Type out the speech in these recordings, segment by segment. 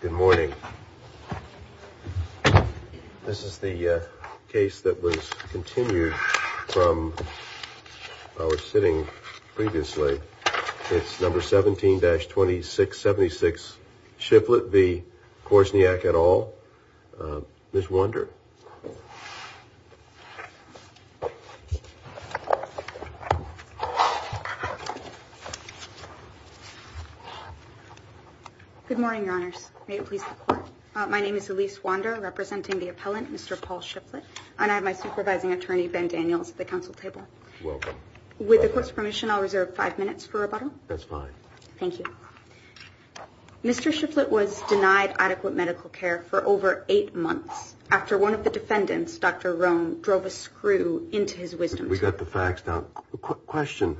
Good morning. This is the case that was continued from our sitting previously. It's number 17-2676 Shifflet v. Korsniak et al. Ms. Wander. Good morning, your honors. May it please the court. My name is Elise Wander, representing the appellant, Mr. Paul Shifflet, and I have my supervising attorney, Ben Daniels, at the council table. Welcome. With the court's permission, I'll reserve five minutes for rebuttal. That's fine. Thank you. Mr. Shifflet was denied adequate medical care for over eight months after one of the defendants, Dr. Roan, drove a screw into his wisdom tooth. We got the facts down. Question.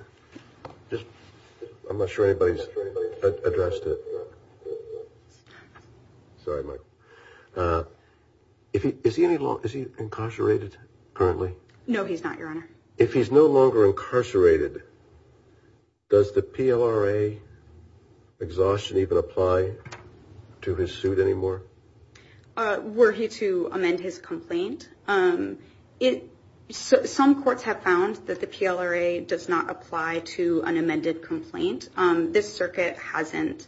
I'm not sure anybody's addressed it. Sorry, Mike. Is he incarcerated currently? No, he's not, your honor. If he's no longer incarcerated, does the PLRA exhaustion even apply to his suit anymore? Were he to amend his complaint? Some courts have found that the PLRA does not apply to an amended complaint. This circuit hasn't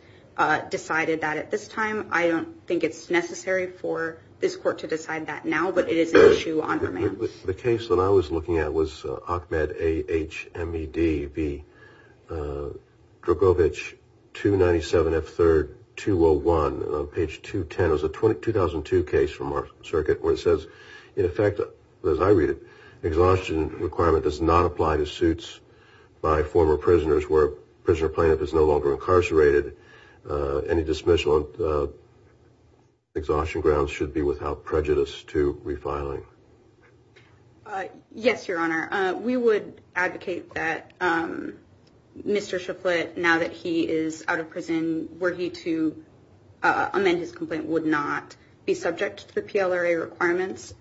decided that at this time. I don't think it's necessary for this court to decide that now, but it is an issue, your honor. The case that I was looking at was Achmed, A-H-M-E-D-B, Drogovich, 297F3-201, on page 210. It was a 2002 case from our circuit where it says, in effect, as I read it, exhaustion requirement does not apply to suits by former prisoners where a prisoner plaintiff is no longer incarcerated. Any dismissal on exhaustion grounds should be without prejudice to refiling. Yes, your honor. We would advocate that Mr. Chaflet, now that he is out of prison, were he to amend his complaint, would not be subject to the PLRA requirements.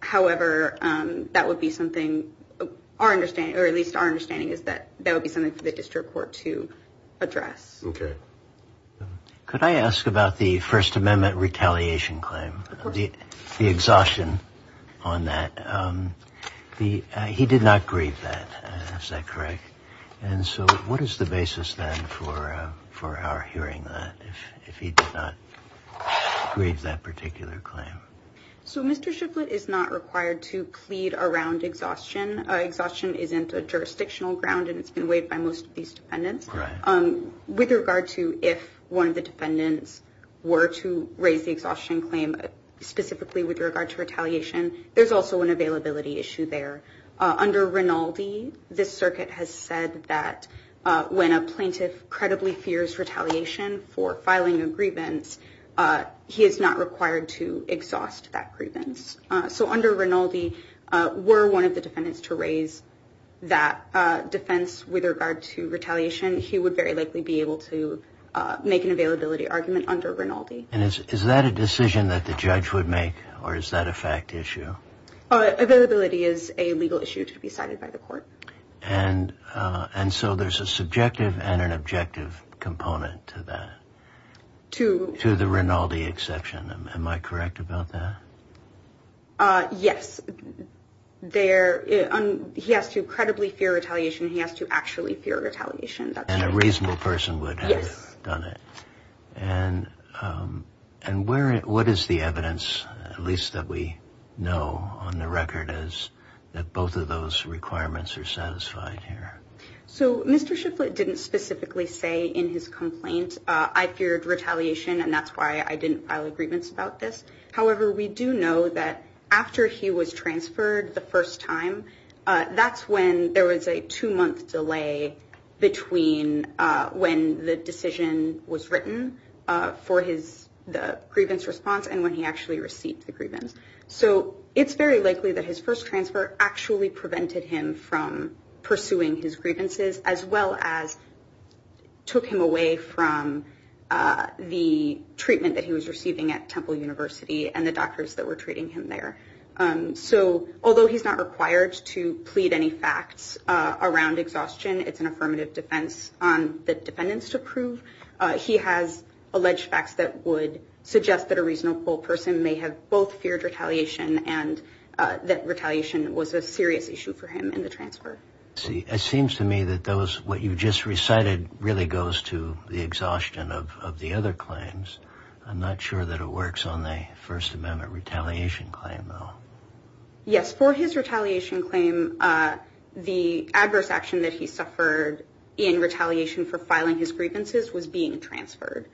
However, that would be something our understanding, or at least our understanding, is that that would be something for the district court to address. Could I ask about the First Amendment retaliation claim, the exhaustion on that? He did not grieve that, is that correct? And so what is the basis then for our hearing that, if he did not grieve that particular claim? So Mr. Chaflet is not required to plead around exhaustion. Exhaustion isn't a jurisdictional ground and it's been weighed by most of these defendants. With regard to if one of the defendants were to raise the exhaustion claim, specifically with regard to retaliation, there's also an availability issue there. Under Rinaldi, this circuit has said that when a plaintiff credibly fears retaliation for filing a grievance, he is not required to exhaust that grievance. So under Rinaldi, were one of the defendants to raise that defense with regard to retaliation, he would very likely be able to make an availability argument under Rinaldi. And is that a decision that the judge would make, or is that a fact issue? Availability is a legal issue to be cited by the court. And so there's a subjective and an objective component to that, to the Rinaldi exception. Am I correct about that? Yes. He has to credibly fear retaliation. He has to actually fear retaliation. And a reasonable person would have done it. And what is the evidence, at least that we know on the record, is that both of those requirements are satisfied here? So Mr. Shifflett didn't specifically say in his complaint, I feared retaliation and that's why I didn't file a grievance about this. However, we do know that after he was transferred the first time, that's when there was a two month delay between when the decision was written for his grievance response and when he actually received the grievance. So it's very likely that his first transfer actually prevented him from pursuing his grievances, as well as took him away from the treatment that he was receiving at Temple University and the doctors that were treating him there. So although he's not required to plead any facts around exhaustion, it's an affirmative defense on the defendants to prove. He has alleged facts that would suggest that a reasonable person may have both feared retaliation and that retaliation was a serious issue for him in the transfer. It seems to me that what you just recited really goes to the exhaustion of the other claims. I'm not sure that it works on the First Amendment retaliation claim, though. Yes, for his retaliation claim, the adverse action that he suffered in retaliation for filing his grievances was being transferred.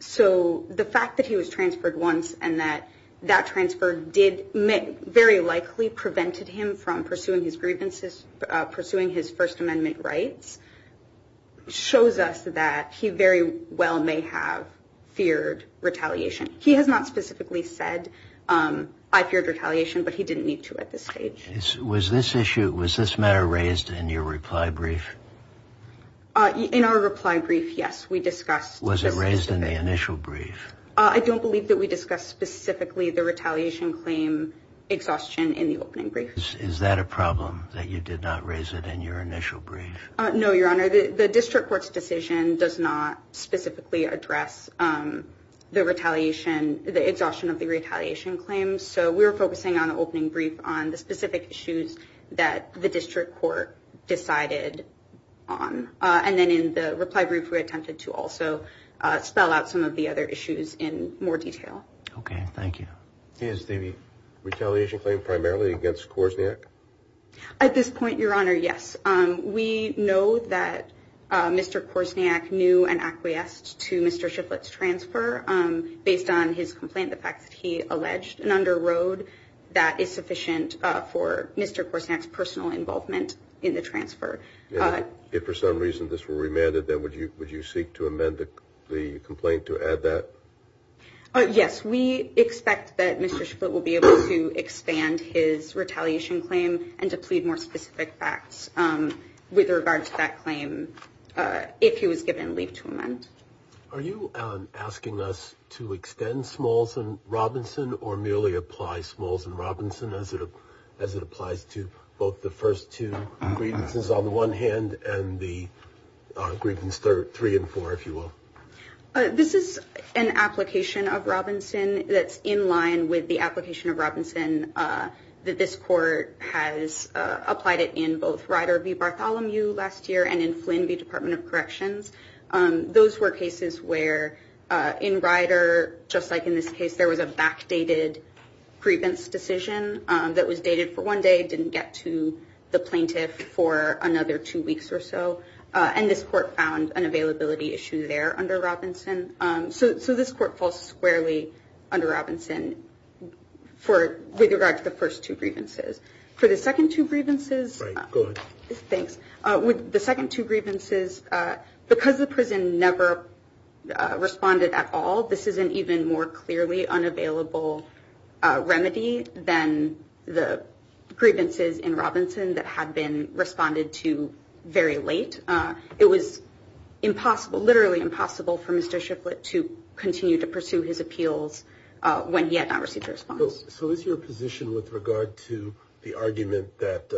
So the fact that he was transferred once and that that transfer did very likely prevented him from pursuing his grievances, pursuing his First Amendment rights, shows us that he very well may have feared retaliation. He has not specifically said, I feared retaliation, but he didn't need to at this stage. Was this issue, was this matter raised in your reply brief? In our reply brief, yes, we discussed. Was it raised in the initial brief? I don't believe that we discussed specifically the retaliation claim exhaustion in the opening brief. Is that a problem that you did not raise it in your initial brief? No, Your Honor, the district court's decision does not specifically address the retaliation, the exhaustion of the retaliation claims. So we were focusing on the opening brief on the specific issues that the district court decided on. And then in the reply brief, we attempted to also spell out some of the other issues in more detail. OK, thank you. Is the retaliation claim primarily against Korsniak? At this point, Your Honor, yes. We know that Mr. Korsniak knew and acquiesced to Mr. Shifflett's transfer based on his complaint. The fact that he alleged an under road that is sufficient for Mr. Korsniak's personal involvement in the transfer. If for some reason this were remanded, then would you would you seek to amend the complaint to add that? Yes, we expect that Mr. Shifflett will be able to expand his retaliation claim and to plead more specific facts with regard to that claim. If he was given leave to amend. Are you asking us to extend Smalls and Robinson or merely apply Smalls and Robinson as it as it applies to both the first two grievances on the one hand and the grievance three and four, if you will? This is an application of Robinson that's in line with the application of Robinson that this court has applied it in both Ryder v. Bartholomew last year and in Flynn v. Department of Corrections. Those were cases where in Ryder, just like in this case, there was a backdated grievance decision that was dated for one day, didn't get to the plaintiff for another two weeks or so. And this court found an availability issue there under Robinson. So this court falls squarely under Robinson for with regard to the first two grievances. For the second two grievances. Thanks. The second two grievances because the prison never responded at all. This is an even more clearly unavailable remedy than the grievances in Robinson that had been responded to very late. It was impossible, literally impossible for Mr. when he had not received a response. So is your position with regard to the argument that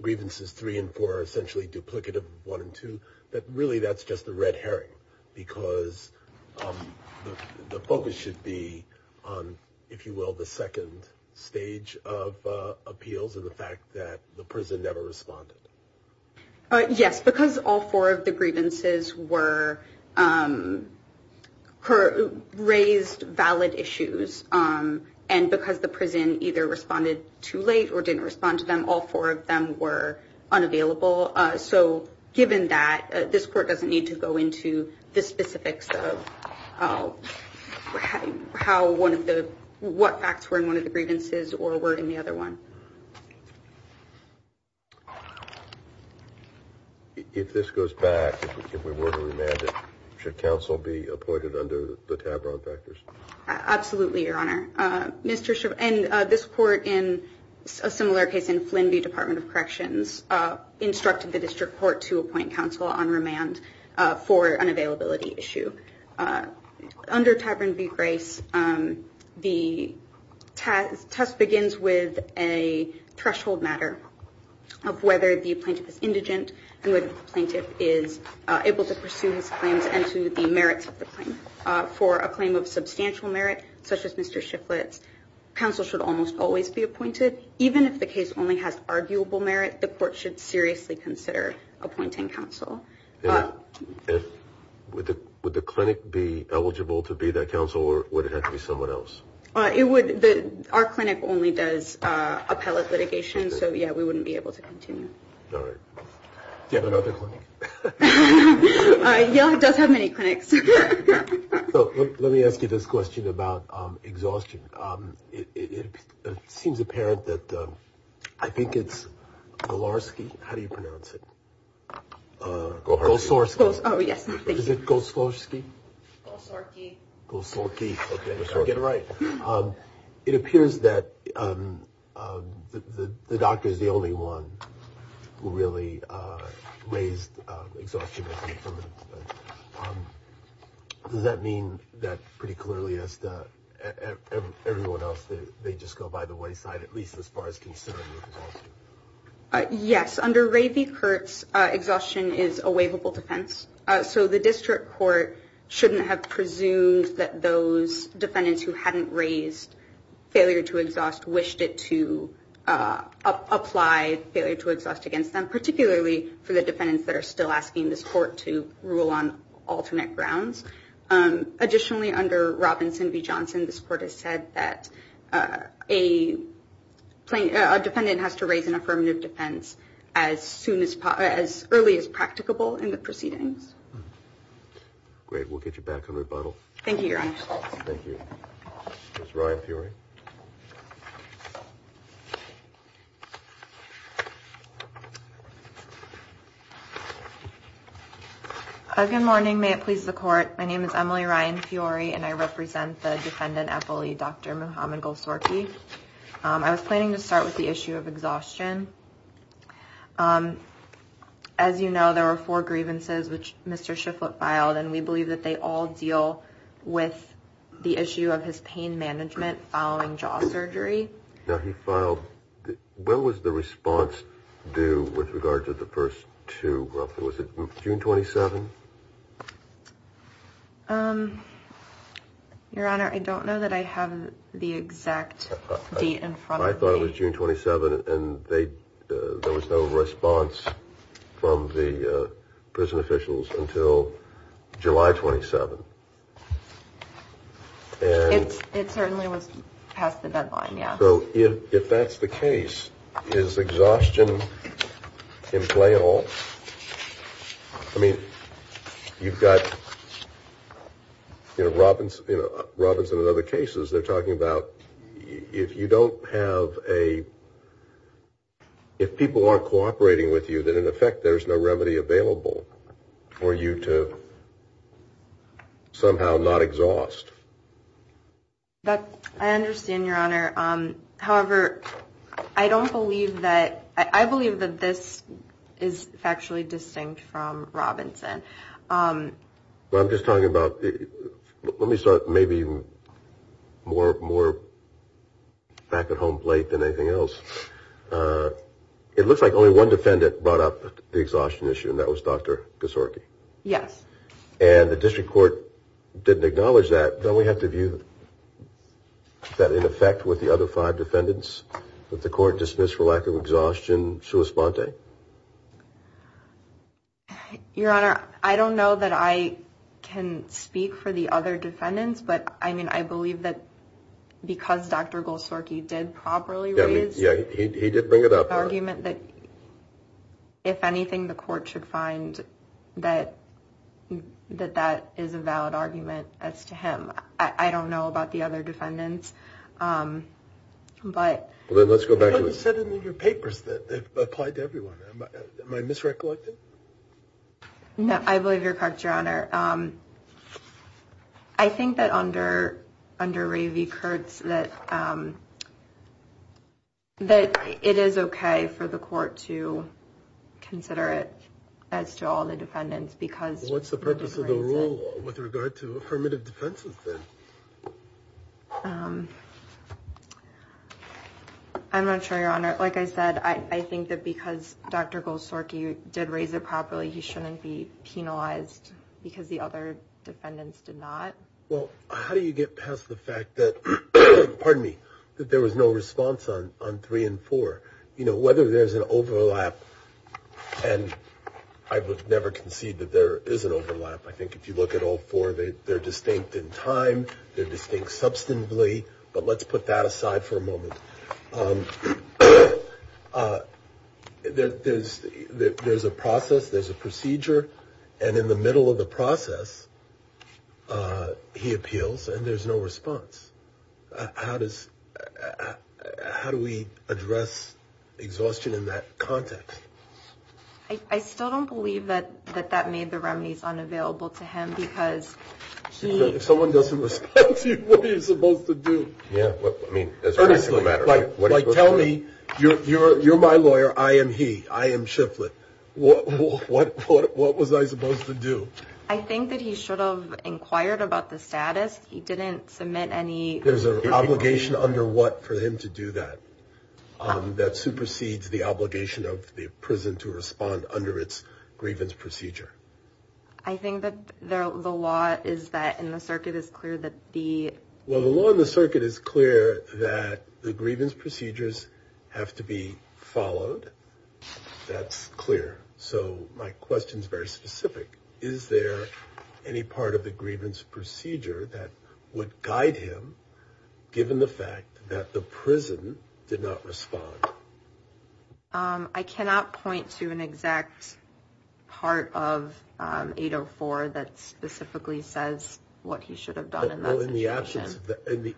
grievances three and four are essentially duplicative of one and two, that really that's just the red herring because the focus should be on, if you will, the second stage of appeals and the fact that the prison never responded? Yes, because all four of the grievances were raised valid issues. And because the prison either responded too late or didn't respond to them, all four of them were unavailable. So given that this court doesn't need to go into the specifics of how one of the what facts were in one of the grievances or were in the other one. If this goes back, if we were to remand it, should counsel be appointed under the Tavron factors? Absolutely, Your Honor. And this court, in a similar case in Flynn v. Department of Corrections, instructed the district court to appoint counsel on remand for an availability issue. Under Tavron v. Grace, the test begins with a threshold matter of whether the plaintiff is indigent and whether the plaintiff is able to pursue his claims and to the merits of the claim. For a claim of substantial merit, such as Mr. Shifflett's, counsel should almost always be appointed. Even if the case only has arguable merit, the court should seriously consider appointing counsel. Would the clinic be eligible to be that counsel or would it have to be someone else? It would. Our clinic only does appellate litigation. So, yeah, we wouldn't be able to continue. All right. Do you have another clinic? Yeah, it does have many clinics. Let me ask you this question about exhaustion. It seems apparent that I think it's Golarsky. How do you pronounce it? Goslorsky. Oh, yes. Is it Goslorsky? Goslorsky. Goslorsky. I get it right. It appears that the doctor is the only one who really raised exhaustion. Does that mean that pretty clearly everyone else, they just go by the wayside, at least as far as considering exhaustion? Yes. Under Ray v. Kurtz, exhaustion is a waivable defense. So the district court shouldn't have presumed that those defendants who hadn't raised failure to exhaust wished it to apply failure to exhaust against them, particularly for the defendants that are still asking this court to rule on alternate grounds. Additionally, under Robinson v. Johnson, this court has said that a defendant has to raise an affirmative defense as early as practicable in the proceedings. Great. We'll get you back on rebuttal. Thank you, Your Honor. Thank you. Ms. Ryan Fury. Good morning. May it please the Court. My name is Emily Ryan Fury, and I represent the defendant at bully, Dr. Muhammad Goslorsky. I was planning to start with the issue of exhaustion. As you know, there were four grievances which Mr. Shifflett filed, and we believe that they all deal with the issue of his pain management following jaw surgery. Now, he filed – when was the response due with regard to the first two? Was it June 27? Your Honor, I don't know that I have the exact date in front of me. I thought it was June 27, and there was no response from the prison officials until July 27. It certainly was past the deadline, yeah. So if that's the case, is exhaustion in play at all? I mean, you've got – you know, Robinson and other cases, they're talking about if you don't have a – if people aren't cooperating with you, then in effect there's no remedy available for you to somehow not exhaust. I understand, Your Honor. However, I don't believe that – I believe that this is factually distinct from Robinson. Well, I'm just talking about – let me start maybe more back-at-home play than anything else. It looks like only one defendant brought up the exhaustion issue, and that was Dr. Goslorsky. Yes. And the district court didn't acknowledge that. Don't we have to view that in effect with the other five defendants that the court dismissed for lack of exhaustion sua sponte? Your Honor, I don't know that I can speak for the other defendants, but, I mean, I believe that because Dr. Goslorsky did properly raise the argument that, if anything, the court should find that that is a valid argument as to him. I don't know about the other defendants, but – Well, then let's go back to – You haven't said it in your papers that it applied to everyone. Am I misrecollected? No, I believe you're correct, Your Honor. I think that under Ray v. Kurtz that it is okay for the court to consider it as to all the defendants because – Well, what's the purpose of the rule with regard to affirmative defense then? I'm not sure, Your Honor. Like I said, I think that because Dr. Goslorsky did raise it properly, he shouldn't be penalized because the other defendants did not. Well, how do you get past the fact that – pardon me – that there was no response on three and four? You know, whether there's an overlap – and I would never concede that there is an overlap. I think if you look at all four, they're distinct in time, they're distinct substantively, but let's put that aside for a moment. There's a process, there's a procedure, and in the middle of the process he appeals and there's no response. How do we address exhaustion in that context? I still don't believe that that made the remedies unavailable to him because he – If someone doesn't respond to you, what are you supposed to do? Honestly, like tell me – you're my lawyer, I am he, I am Shifflett. What was I supposed to do? I think that he should have inquired about the status. He didn't submit any – There's an obligation under what for him to do that? That supersedes the obligation of the prison to respond under its grievance procedure. I think that the law is that – and the circuit is clear that the – Well, the law and the circuit is clear that the grievance procedures have to be followed. That's clear. So my question is very specific. Is there any part of the grievance procedure that would guide him, given the fact that the prison did not respond? I cannot point to an exact part of 804 that specifically says what he should have done in that situation.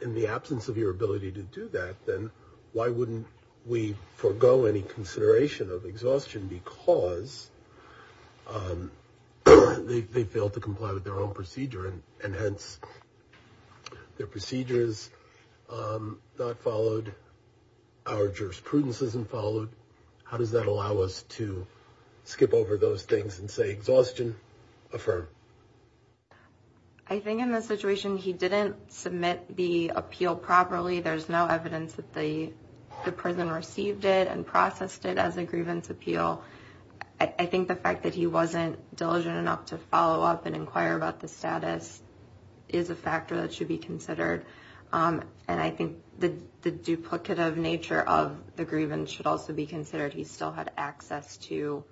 In the absence of your ability to do that, then why wouldn't we forego any consideration of exhaustion? Because they failed to comply with their own procedure and hence their procedure is not followed. Our jurisprudence isn't followed. How does that allow us to skip over those things and say exhaustion? Affirm. I think in the situation he didn't submit the appeal properly, there's no evidence that the prison received it and processed it as a grievance appeal. I think the fact that he wasn't diligent enough to follow up and inquire about the status is a factor that should be considered. And I think the duplicative nature of the grievance should also be considered. He still had access to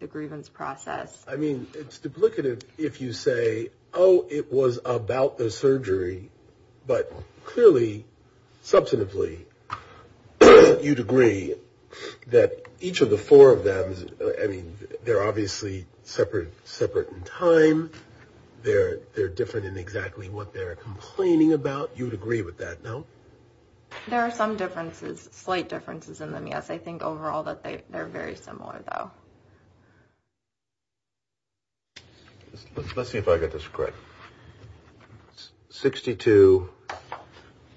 the grievance process. I mean, it's duplicative if you say, oh, it was about the surgery. But clearly, substantively, you'd agree that each of the four of them. I mean, they're obviously separate, separate in time. They're they're different in exactly what they're complaining about. You would agree with that, no? There are some differences, slight differences in them. Yes, I think overall that they are very similar, though. Let's see if I get this correct. Sixty two.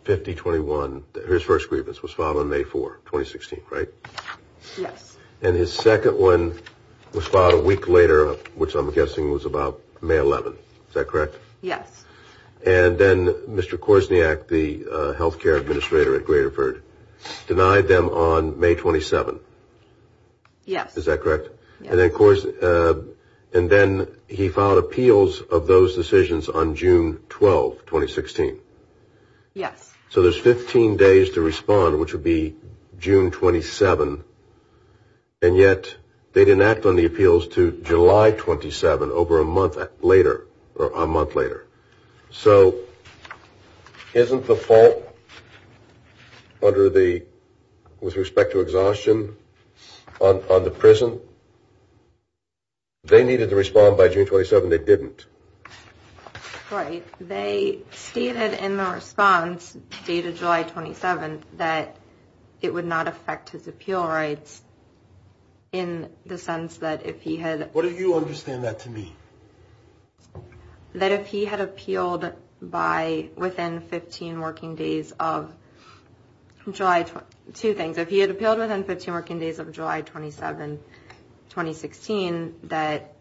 Fifty twenty one. His first grievance was filed on May 4, 2016, right? Yes. And his second one was filed a week later, which I'm guessing was about May 11. Is that correct? Yes. And then Mr. Korsniak, the health care administrator at Greaterford, denied them on May 27. Yes. Is that correct? And of course. And then he filed appeals of those decisions on June 12, 2016. Yes. So there's 15 days to respond, which would be June 27. And yet they didn't act on the appeals to July 27 over a month later or a month later. So isn't the fault under the with respect to exhaustion on the prison? They needed to respond by June 27. They didn't write. They stated in the response dated July 27 that it would not affect his appeal rights. In the sense that if he had. What do you understand that to me? That if he had appealed by within 15 working days of July, two things, if he had appealed within 15 working days of July 27, 2016, that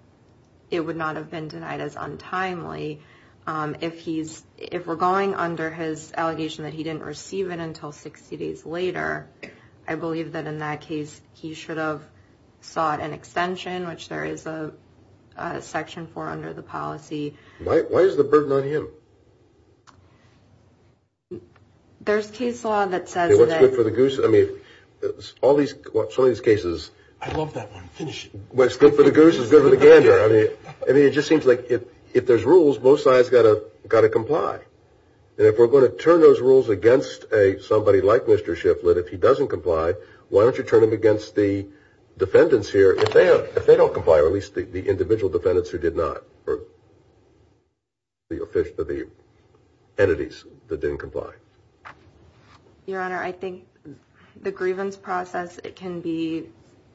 it would not have been denied as untimely if he's if we're going under his allegation that he didn't receive it until 60 days later. I believe that in that case, he should have sought an extension, which there is a section for under the policy. Why is the burden on him? There's case law that says it's good for the goose. I mean, it's all these cases. I love that one. Finish what's good for the goose is good for the game. I mean, I mean, it just seems like if if there's rules, both sides got to got to comply. And if we're going to turn those rules against a somebody like Mr. Shiflett, if he doesn't comply, why don't you turn them against the defendants here if they have if they don't comply, or at least the individual defendants who did not or the official to the entities that didn't comply? Your Honor, I think the grievance process, it can be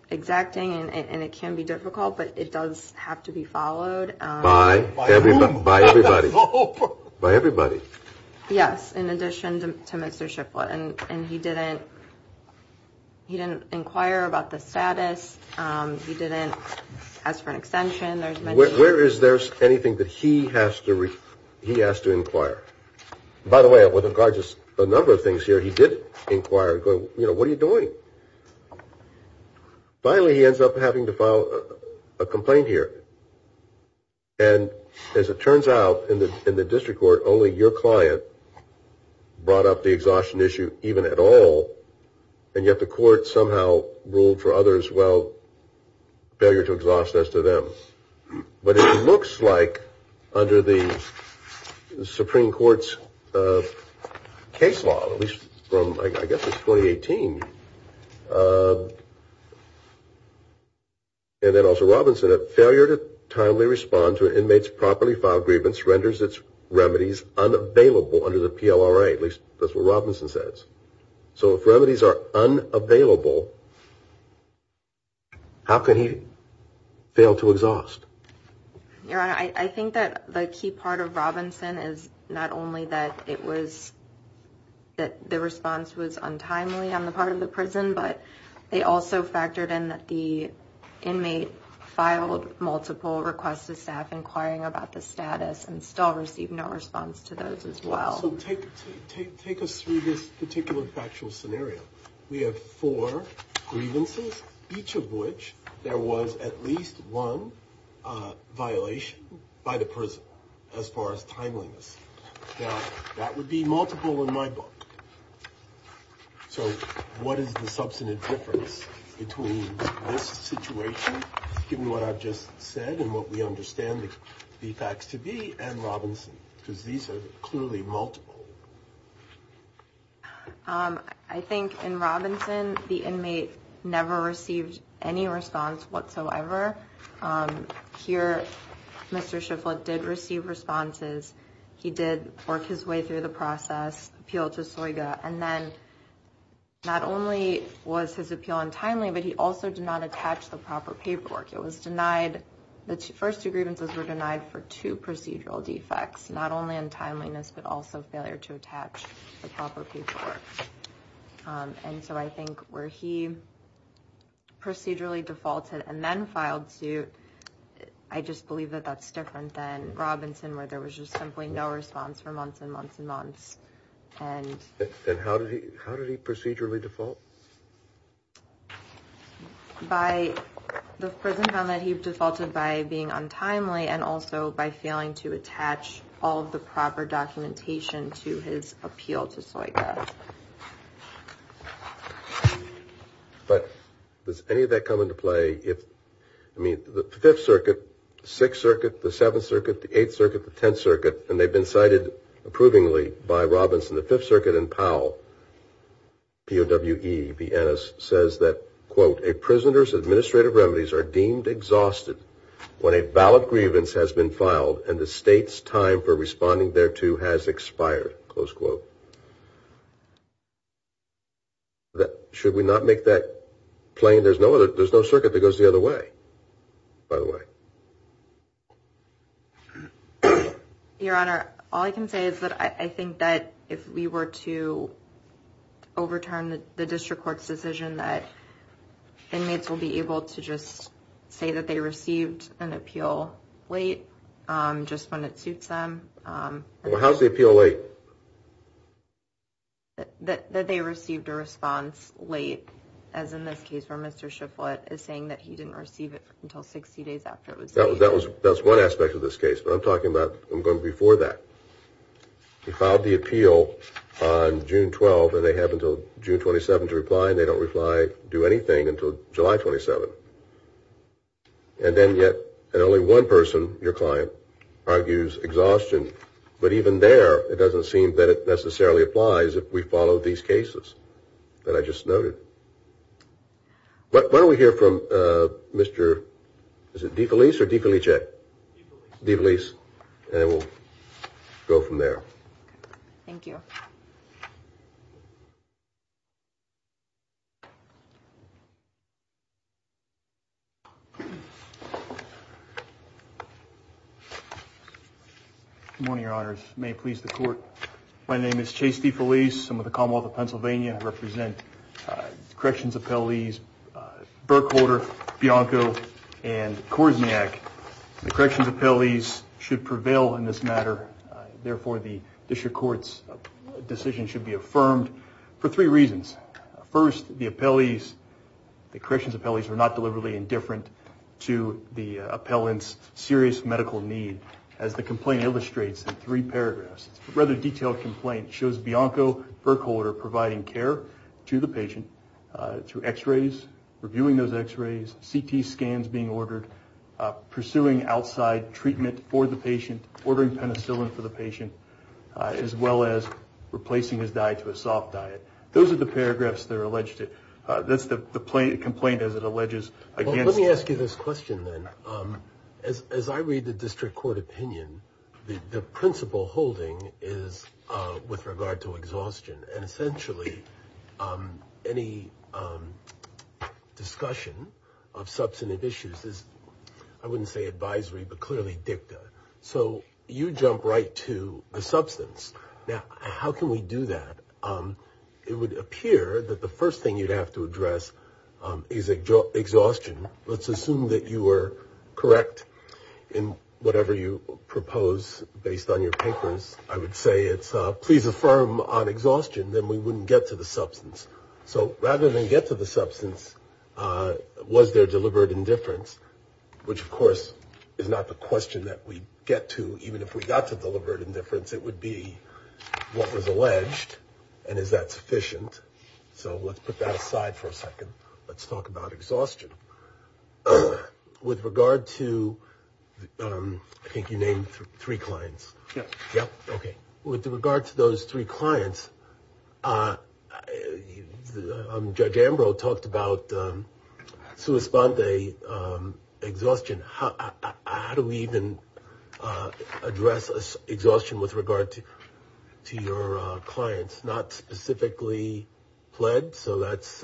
exacting and it can be difficult, but it does have to be followed by everybody. By everybody. Yes. In addition to Mr. Shiflett. And he didn't he didn't inquire about the status. He didn't ask for an extension. Where is there anything that he has to he has to inquire? By the way, it was a gorgeous a number of things here. He did inquire. You know, what are you doing? Finally, he ends up having to file a complaint here. And as it turns out in the in the district court, only your client brought up the exhaustion issue even at all. And yet the court somehow ruled for others, well, failure to exhaust as to them. But it looks like under the Supreme Court's case law, at least from, I guess, 2018. And then also Robinson, a failure to timely respond to an inmate's properly filed grievance renders its remedies unavailable under the PLR. At least that's what Robinson says. So if remedies are unavailable. How can he fail to exhaust your eye? I think that the key part of Robinson is not only that it was that the response was untimely on the part of the prison, but they also factored in that the inmate filed multiple requests to staff inquiring about the status and still receive no response to those as well. So take take take us through this particular factual scenario. We have four grievances, each of which there was at least one violation by the prison as far as timeliness. Now, that would be multiple in my book. So what is the substantive difference between this situation? Given what I've just said and what we understand the facts to be and Robinson, because these are clearly multiple. I think in Robinson, the inmate never received any response whatsoever. Here, Mr. Shifflett did receive responses. He did work his way through the process, appealed to Soyga. And then not only was his appeal untimely, but he also did not attach the proper paperwork. It was denied. The first two grievances were denied for two procedural defects, not only untimeliness, but also failure to attach the proper paperwork. And so I think where he procedurally defaulted and then filed suit, I just believe that that's different than Robinson, where there was just simply no response for months and months and months. And then how did he how did he procedurally default? By the prison found that he defaulted by being untimely and also by failing to attach all of the proper documentation to his appeal to Soyga. But does any of that come into play if I mean the Fifth Circuit, Sixth Circuit, the Seventh Circuit, the Eighth Circuit, the Tenth Circuit, and they've been cited approvingly by Robinson, the Fifth Circuit and Powell. P.O.W.E. says that, quote, a prisoner's administrative remedies are deemed exhausted when a valid grievance has been filed and the state's time for responding there to has expired. Close quote. Should we not make that plain? There's no other there's no circuit that goes the other way, by the way. Your Honor, all I can say is that I think that if we were to overturn the district court's decision that inmates will be able to just say that they received an appeal late just when it suits them. Well, how's the appeal late? That they received a response late, as in this case where Mr. Shifflett is saying that he didn't receive it until 60 days after it was. That was that was that's one aspect of this case. But I'm talking about I'm going before that. He filed the appeal on June 12 and they have until June 27 to reply and they don't reply, do anything until July 27. And then yet only one person, your client, argues exhaustion. But even there, it doesn't seem that it necessarily applies if we follow these cases that I just noted. Why don't we hear from Mr. DeFelice or DeFelice? DeFelice. And we'll go from there. Thank you. Good morning, your honors. May it please the court. My name is Chase DeFelice. I'm with the Commonwealth of Pennsylvania. I represent corrections appellees, Berkholder, Bianco and Korsniak. The corrections appellees should prevail in this matter. Therefore, the district court's decision should be affirmed for three reasons. First, the appellees, the corrections appellees, are not deliberately indifferent to the appellant's serious medical need. As the complaint illustrates in three paragraphs, it's a rather detailed complaint. It shows Bianco Berkholder providing care to the patient through x-rays, reviewing those x-rays, CT scans being ordered, pursuing outside treatment for the patient, ordering penicillin for the patient, as well as replacing his diet to a soft diet. Those are the paragraphs that are alleged. That's the complaint as it alleges. Let me ask you this question, then. As I read the district court opinion, the principle holding is with regard to exhaustion. And essentially, any discussion of substantive issues is, I wouldn't say advisory, but clearly dicta. So you jump right to the substance. Now, how can we do that? It would appear that the first thing you'd have to address is exhaustion. Let's assume that you were correct in whatever you propose based on your papers. I would say it's please affirm on exhaustion, then we wouldn't get to the substance. So rather than get to the substance, was there deliberate indifference, which, of course, is not the question that we get to. Even if we got to deliberate indifference, it would be what was alleged. And is that sufficient? So let's put that aside for a second. Let's talk about exhaustion. With regard to, I think you named three clients. Yeah. Okay. With regard to those three clients, Judge Ambrose talked about sua sponte exhaustion. How do we even address exhaustion with regard to your clients? Not specifically pled, so that's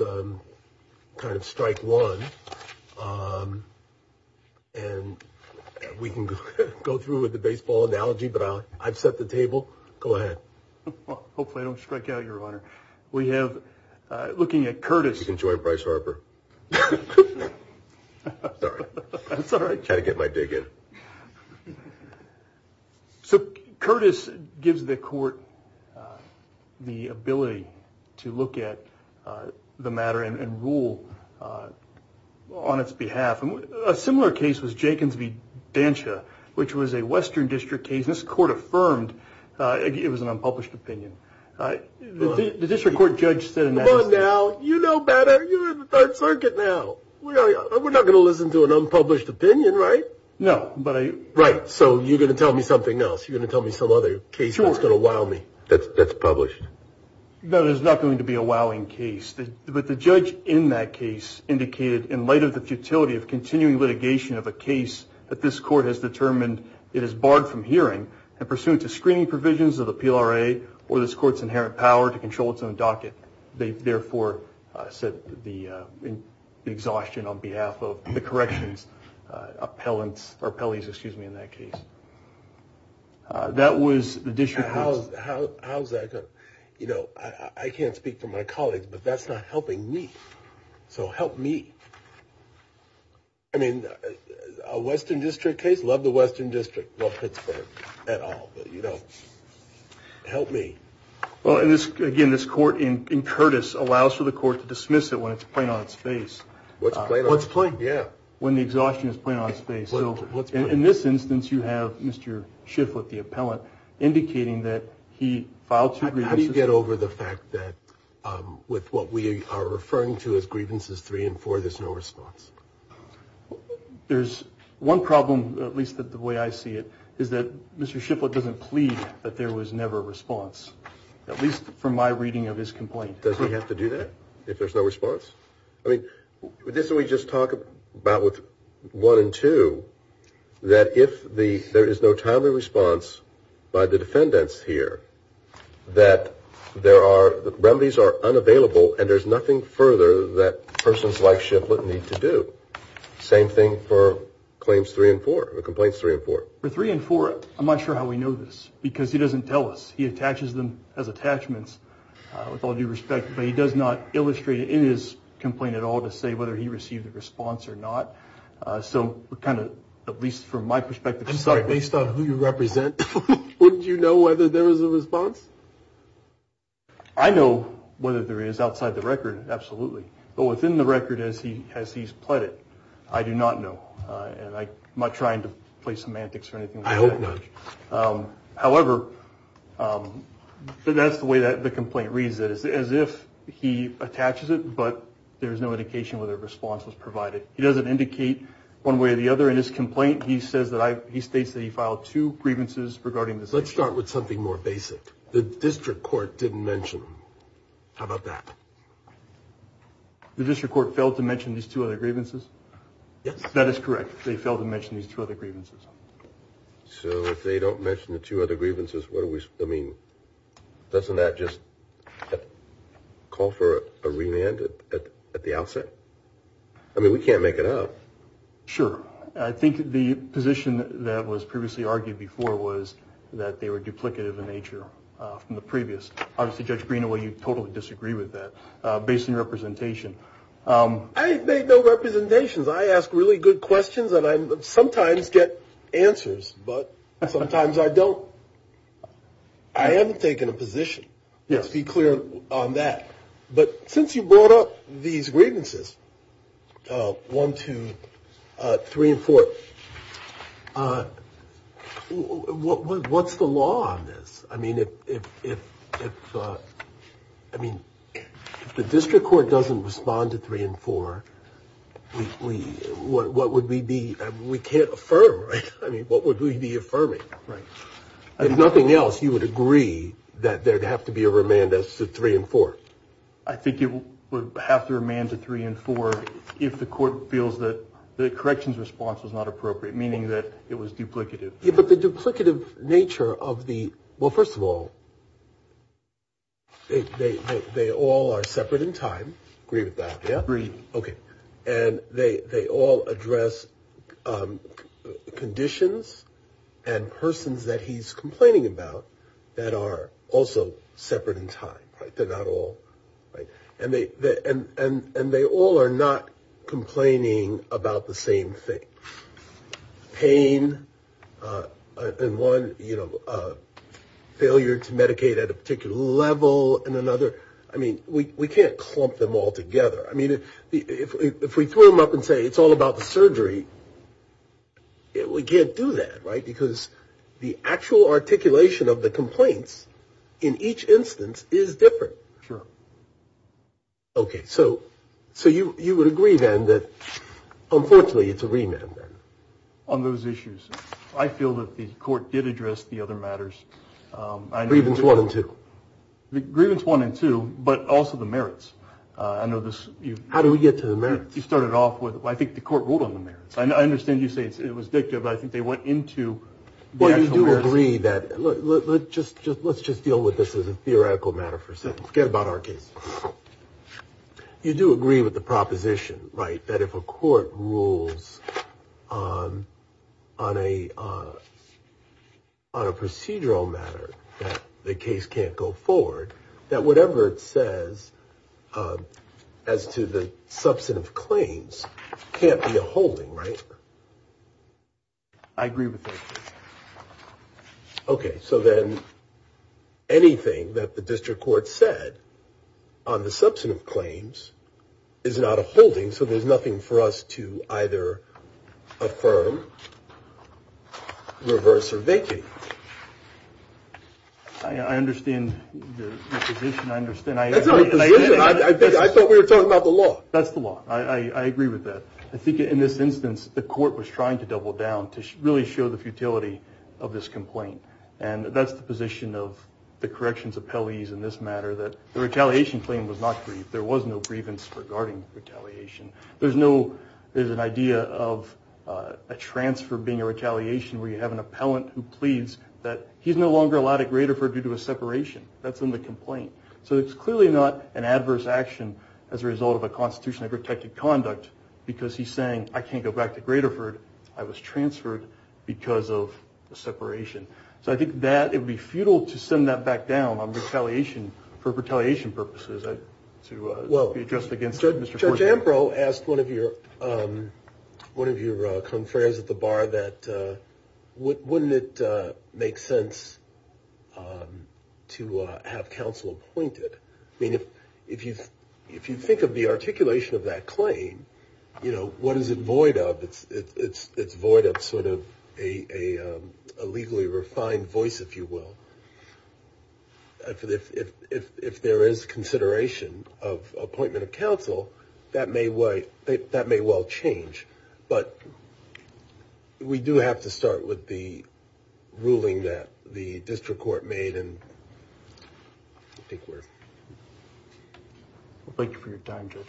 kind of strike one. And we can go through with the baseball analogy, but I've set the table. Go ahead. Hopefully I don't strike out, Your Honor. We have, looking at Curtis. You can join Bryce Harper. Sorry. That's all right. Had to get my dig in. So Curtis gives the court the ability to look at the matter and rule on its behalf. And a similar case was Jenkins v. Dansha, which was a western district case. This court affirmed it was an unpublished opinion. The district court judge said in that case. Come on now. You know better. You're in the Third Circuit now. We're not going to listen to an unpublished opinion, right? No, but I. Right, so you're going to tell me something else. You're going to tell me some other case that's going to wow me. That's published. That is not going to be a wowing case. But the judge in that case indicated in light of the futility of continuing litigation of a case that this court has determined it is barred from hearing and pursuant to screening provisions of the PLRA or this court's inherent power to control its own docket. They therefore said the exhaustion on behalf of the corrections appellants or appellees. Excuse me. In that case, that was the district. How's that? You know, I can't speak for my colleagues, but that's not helping me. So help me. I mean, a western district case. Love the western district. Well, Pittsburgh at all. But, you know, help me. Well, again, this court in Curtis allows for the court to dismiss it when it's plain on its face. What's plain? What's plain? Yeah. When the exhaustion is plain on its face. So in this instance, you have Mr. Shifflett, the appellant, indicating that he filed two grievances. How do you get over the fact that with what we are referring to as grievances three and four, there's no response? There's one problem, at least the way I see it, is that Mr. Shifflett doesn't plead that there was never a response, at least from my reading of his complaint. Does he have to do that if there's no response? I mean, didn't we just talk about with one and two that if there is no timely response by the defendants here, that remedies are unavailable and there's nothing further that persons like Shifflett need to do? Same thing for claims three and four, the complaints three and four. For three and four, I'm not sure how we know this because he doesn't tell us. He attaches them as attachments, with all due respect, but he does not illustrate it in his complaint at all to say whether he received a response or not. So we're kind of, at least from my perspective, based on who you represent, would you know whether there was a response? I know whether there is outside the record, absolutely. But within the record as he's pled it, I do not know. And I'm not trying to play semantics or anything like that. I hope not. However, that's the way the complaint reads it, as if he attaches it, but there's no indication whether a response was provided. He doesn't indicate one way or the other in his complaint. He states that he filed two grievances regarding this issue. Let's start with something more basic. The district court didn't mention them. How about that? The district court failed to mention these two other grievances? Yes. That is correct. They failed to mention these two other grievances. So if they don't mention the two other grievances, doesn't that just call for a remand at the outset? I mean, we can't make it up. Sure. I think the position that was previously argued before was that they were duplicative in nature from the previous. Obviously, Judge Greenaway, you totally disagree with that, based on your representation. I make no representations. I ask really good questions and I sometimes get answers, but sometimes I don't. I haven't taken a position. Let's be clear on that. But since you brought up these grievances, 1, 2, 3, and 4, what's the law on this? I mean, if the district court doesn't respond to 3 and 4, what would we be – we can't affirm, right? I mean, what would we be affirming? If nothing else, you would agree that there would have to be a remand to 3 and 4? I think it would have to remand to 3 and 4 if the court feels that the corrections response was not appropriate, meaning that it was duplicative. Yeah, but the duplicative nature of the – well, first of all, they all are separate in time. Agree with that, yeah? Agree. Okay. And they all address conditions and persons that he's complaining about that are also separate in time, right? They're not all – and they all are not complaining about the same thing. Pain and one failure to medicate at a particular level and another – I mean, we can't clump them all together. I mean, if we throw them up and say it's all about the surgery, we can't do that, right? Because the actual articulation of the complaints in each instance is different. Sure. Okay, so you would agree, then, that unfortunately it's a remand. On those issues, I feel that the court did address the other matters. Grievance 1 and 2. Grievance 1 and 2, but also the merits. I know this – How do we get to the merits? You started off with – I think the court ruled on the merits. I understand you say it was dictative, but I think they went into the actual merits. Yeah, you do agree that – look, let's just deal with this as a theoretical matter for a second. Forget about our case. You do agree with the proposition, right, that if a court rules on a procedural matter that the case can't go forward, that whatever it says as to the substantive claims can't be a holding, right? I agree with that. Okay, so then anything that the district court said on the substantive claims is not a holding, so there's nothing for us to either affirm, reverse, or vacate. I understand the position. That's not the position. I thought we were talking about the law. That's the law. I agree with that. I think in this instance, the court was trying to double down to really show the futility of this complaint, and that's the position of the corrections appellees in this matter, that the retaliation claim was not grieved. There was no grievance regarding retaliation. There's no – there's an idea of a transfer being a retaliation where you have an appellant who pleads that he's no longer allowed at Graterford due to a separation. That's in the complaint. So it's clearly not an adverse action as a result of a constitutionally protected conduct because he's saying, I can't go back to Graterford. I was transferred because of the separation. So I think that it would be futile to send that back down on retaliation for retaliation purposes. Well, Judge Ambrose asked one of your confreres at the bar that wouldn't it make sense to have counsel appointed? I mean, if you think of the articulation of that claim, you know, what is it void of? It's void of sort of a legally refined voice, if you will. If there is consideration of appointment of counsel, that may well change. But we do have to start with the ruling that the district court made and I think we're – Thank you for your time, judges.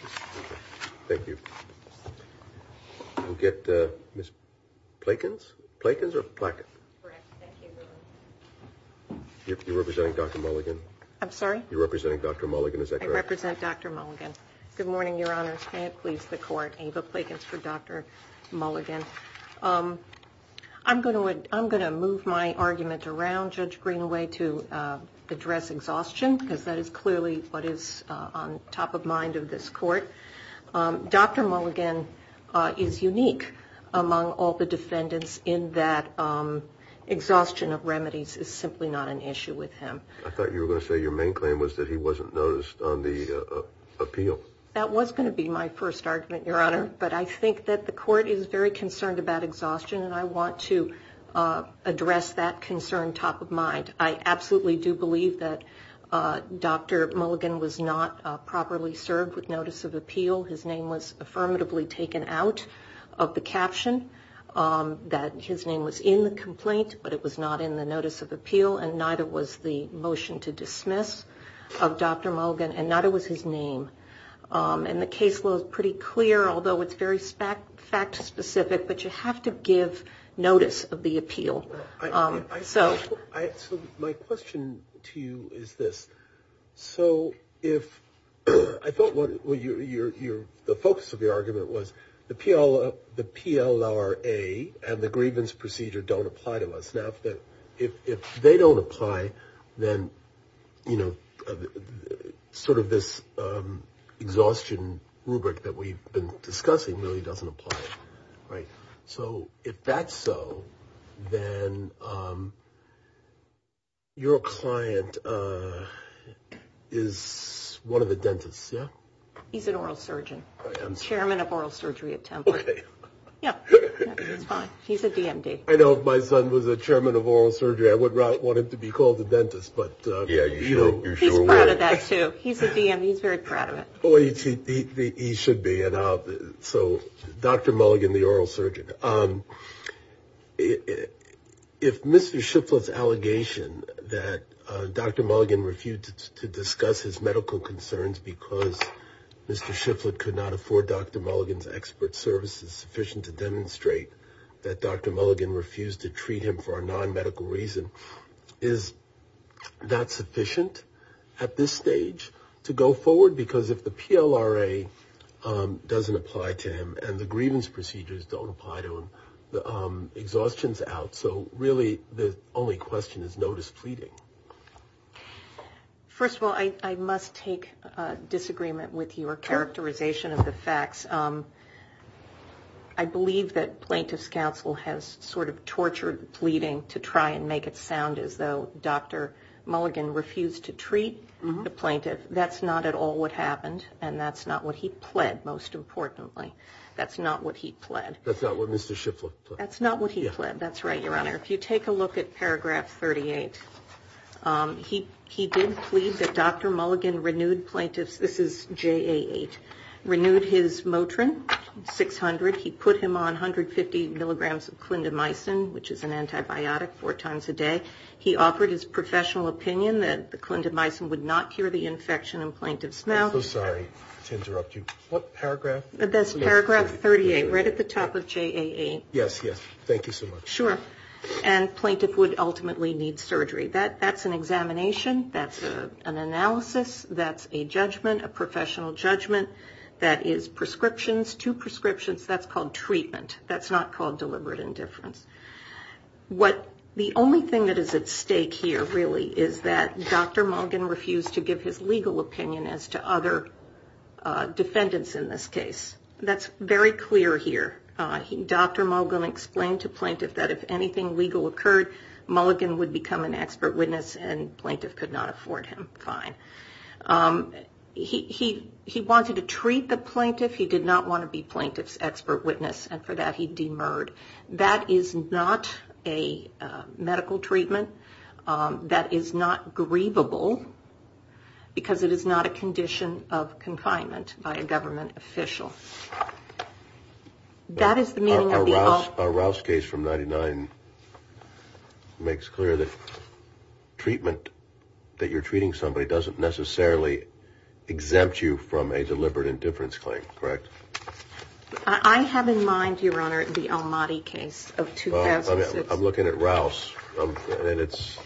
Thank you. We'll get Ms. Plakins. Plakins or Plakins? Correct. Thank you. You're representing Dr. Mulligan? I'm sorry? You're representing Dr. Mulligan, is that correct? I represent Dr. Mulligan. Good morning, Your Honors. May it please the court, Ava Plakins for Dr. Mulligan. I'm going to move my argument around, Judge Greenaway, to address exhaustion because that is clearly what is on top of mind of this court. Dr. Mulligan is unique among all the defendants in that exhaustion of remedies is simply not an issue with him. I thought you were going to say your main claim was that he wasn't noticed on the appeal. That was going to be my first argument, Your Honor, but I think that the court is very concerned about exhaustion and I want to address that concern top of mind. I absolutely do believe that Dr. Mulligan was not properly served with notice of appeal. His name was affirmatively taken out of the caption, that his name was in the complaint but it was not in the notice of appeal and neither was the motion to dismiss of Dr. Mulligan and neither was his name. The case was pretty clear, although it's very fact-specific, but you have to give notice of the appeal. My question to you is this. I thought the focus of your argument was the PLRA and the grievance procedure don't apply to us. Now, if they don't apply, then this exhaustion rubric that we've been discussing really doesn't apply. So if that's so, then your client is one of the dentists, yeah? He's an oral surgeon, chairman of oral surgery at Temple. Okay. Yeah, he's fine. He's a DMD. I know if my son was a chairman of oral surgery, I would want him to be called a dentist. Yeah, you sure would. He's proud of that, too. He's a DMD. He's very proud of it. He should be. So Dr. Mulligan, the oral surgeon, if Mr. Shifflett's allegation that Dr. Mulligan refused to discuss his medical concerns because Mr. Shifflett could not afford Dr. Mulligan's expert services sufficient to demonstrate that Dr. Mulligan refused to treat him for a non-medical reason, is that sufficient at this stage to go forward? Because if the PLRA doesn't apply to him and the grievance procedures don't apply to him, the exhaustion's out. So really the only question is no displeading. First of all, I must take disagreement with your characterization of the facts. I believe that plaintiff's counsel has sort of tortured pleading to try and make it sound as though Dr. Mulligan refused to treat the plaintiff. That's not at all what happened, and that's not what he pled, most importantly. That's not what he pled. That's not what Mr. Shifflett pled. That's not what he pled. That's right, Your Honor. If you take a look at paragraph 38, he did plead that Dr. Mulligan renewed plaintiff's, this is JA8, renewed his Motrin 600. He put him on 150 milligrams of clindamycin, which is an antibiotic, four times a day. He offered his professional opinion that the clindamycin would not cure the infection in plaintiff's mouth. I'm so sorry to interrupt you. What paragraph? That's paragraph 38, right at the top of JA8. Yes, yes. Thank you so much. Sure, and plaintiff would ultimately need surgery. That's an examination. That's an analysis. That's a judgment, a professional judgment. That is prescriptions, two prescriptions. That's called treatment. That's not called deliberate indifference. The only thing that is at stake here, really, is that Dr. Mulligan refused to give his legal opinion as to other defendants in this case. That's very clear here. Dr. Mulligan explained to plaintiff that if anything legal occurred, Mulligan would become an expert witness, and plaintiff could not afford him. Fine. He wanted to treat the plaintiff. He did not want to be plaintiff's expert witness, and for that he demurred. That is not a medical treatment. That is not grievable, because it is not a condition of confinement by a government official. That is the meaning of the all... Our Rouse case from 99 makes clear that treatment, that you're treating somebody, doesn't necessarily exempt you from a deliberate indifference claim, correct? I have in mind, Your Honor, the Almaty case of 2006. I'm looking at Rouse, and it's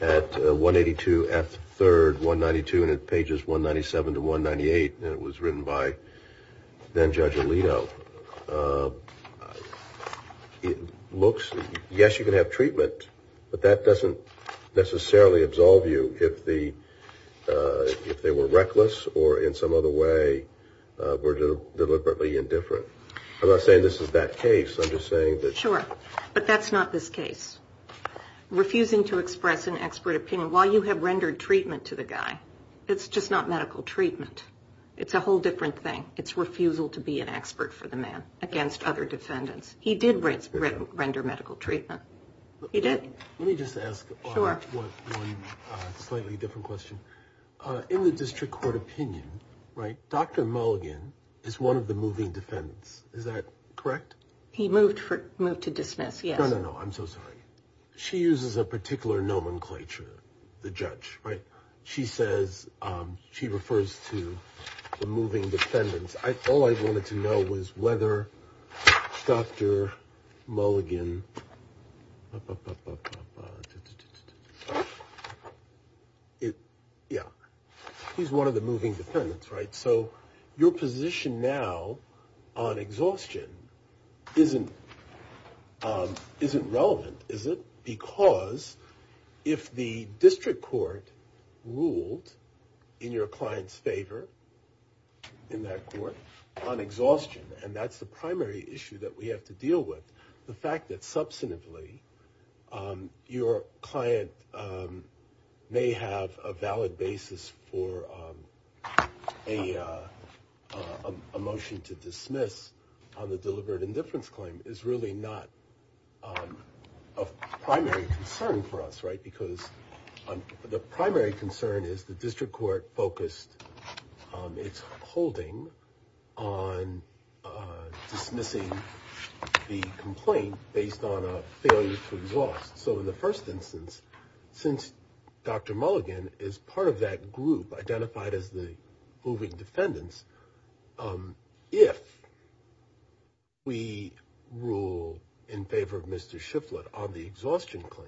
at 182 F. 3rd, 192, and it's pages 197 to 198, and it was written by then-Judge Alito. It looks... Yes, you can have treatment, but that doesn't necessarily absolve you if they were reckless or in some other way were deliberately indifferent. I'm not saying this is that case. I'm just saying that... Sure, but that's not this case. Refusing to express an expert opinion while you have rendered treatment to the guy, it's just not medical treatment. It's a whole different thing. It's refusal to be an expert for the man against other defendants. He did render medical treatment. He did. Let me just ask one slightly different question. In the district court opinion, Dr. Mulligan is one of the moving defendants. Is that correct? He moved to dismiss, yes. No, no, no. I'm so sorry. She uses a particular nomenclature, the judge, right? She says she refers to the moving defendants. All I wanted to know was whether Dr. Mulligan, yeah, he's one of the moving defendants, right? So your position now on exhaustion isn't relevant, is it? Because if the district court ruled in your client's favor in that court on exhaustion, and that's the primary issue that we have to deal with, the fact that substantively your client may have a valid basis for a motion to dismiss on the deliberate indifference claim is really not a primary concern for us, right? Because the primary concern is the district court focused its holding on dismissing the complaint based on a failure to exhaust. So in the first instance, since Dr. Mulligan is part of that group identified as the moving defendants, if we rule in favor of Mr. Shifflett on the exhaustion claim,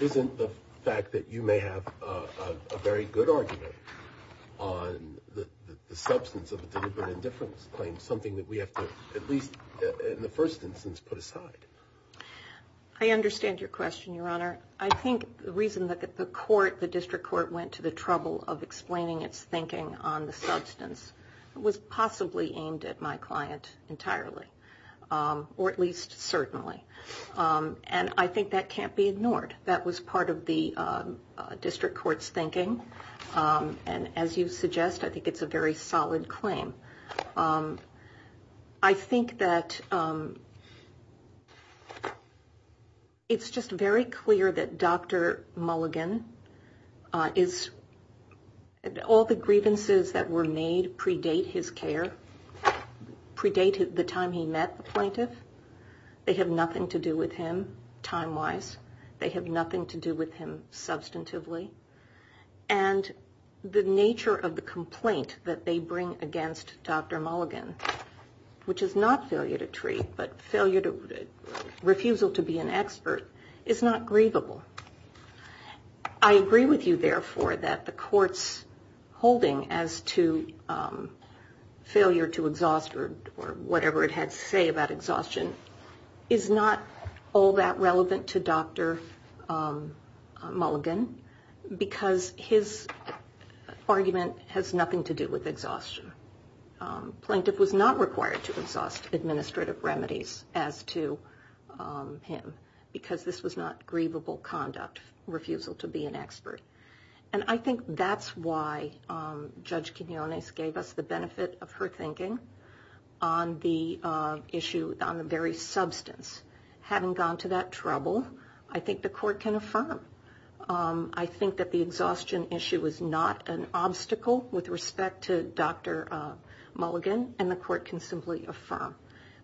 isn't the fact that you may have a very good argument on the substance of a deliberate indifference claim something that we have to at least in the first instance put aside? I understand your question, Your Honor. I think the reason that the court, the district court, went to the trouble of explaining its thinking on the substance was possibly aimed at my client entirely, or at least certainly. And I think that can't be ignored. That was part of the district court's thinking. And as you suggest, I think it's a very solid claim. I think that it's just very clear that Dr. Mulligan is, all the grievances that were made predate his care, predate the time he met the plaintiff. They have nothing to do with him time-wise. They have nothing to do with him substantively. And the nature of the complaint that they bring against Dr. Mulligan, which is not failure to treat, but refusal to be an expert, is not grievable. I agree with you, therefore, that the court's holding as to failure to exhaust or whatever it had to say about exhaustion is not all that relevant to Dr. Mulligan because his argument has nothing to do with exhaustion. Plaintiff was not required to exhaust administrative remedies as to him because this was not grievable conduct, refusal to be an expert. And I think that's why Judge Quinonez gave us the benefit of her thinking on the issue on the very substance. Having gone to that trouble, I think the court can affirm. I think that the exhaustion issue is not an obstacle with respect to Dr. Mulligan. And the court can simply affirm.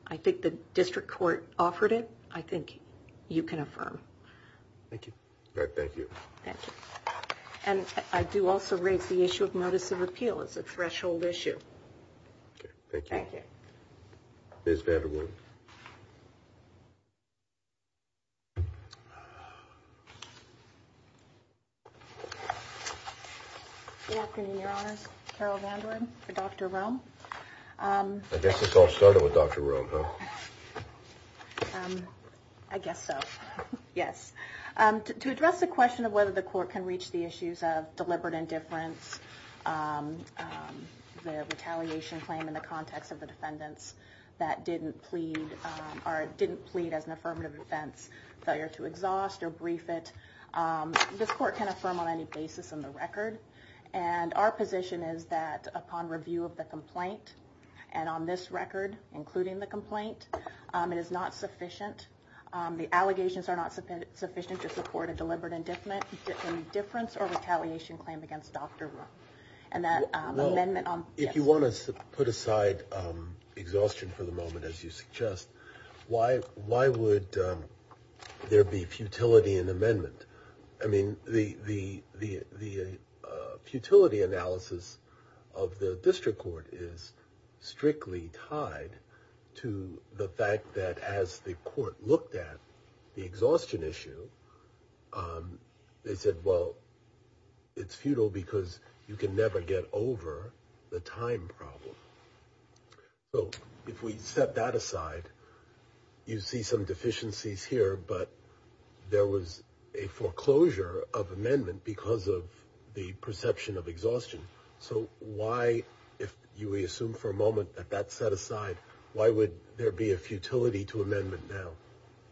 I think the district court offered it. I think you can affirm. Thank you. Thank you. And I do also raise the issue of notice of appeal as a threshold issue. Thank you. It's very good. In your eyes. Dr. Rome, I guess it's all started with Dr. Rome. I guess so. Yes. To address the question of whether the court can reach the issues of deliberate indifference, the retaliation claim in the context of the defendants that didn't plead or didn't plead as an affirmative defense failure to exhaust or brief it. This court can affirm on any basis in the record. And our position is that upon review of the complaint and on this record, including the complaint, it is not sufficient. The allegations are not sufficient to support a deliberate indifference or retaliation claim against Dr. Rome. And that amendment. If you want to put aside exhaustion for the moment, as you suggest, why? Why would there be futility in amendment? I mean, the the the the futility analysis of the district court is strictly tied to the fact that as the court looked at the exhaustion issue, they said, well, it's futile because you can never get over the time problem. So if we set that aside, you see some deficiencies here, but there was a foreclosure of amendment because of the perception of exhaustion. So why, if you assume for a moment that that set aside, why would there be a futility to amendment now?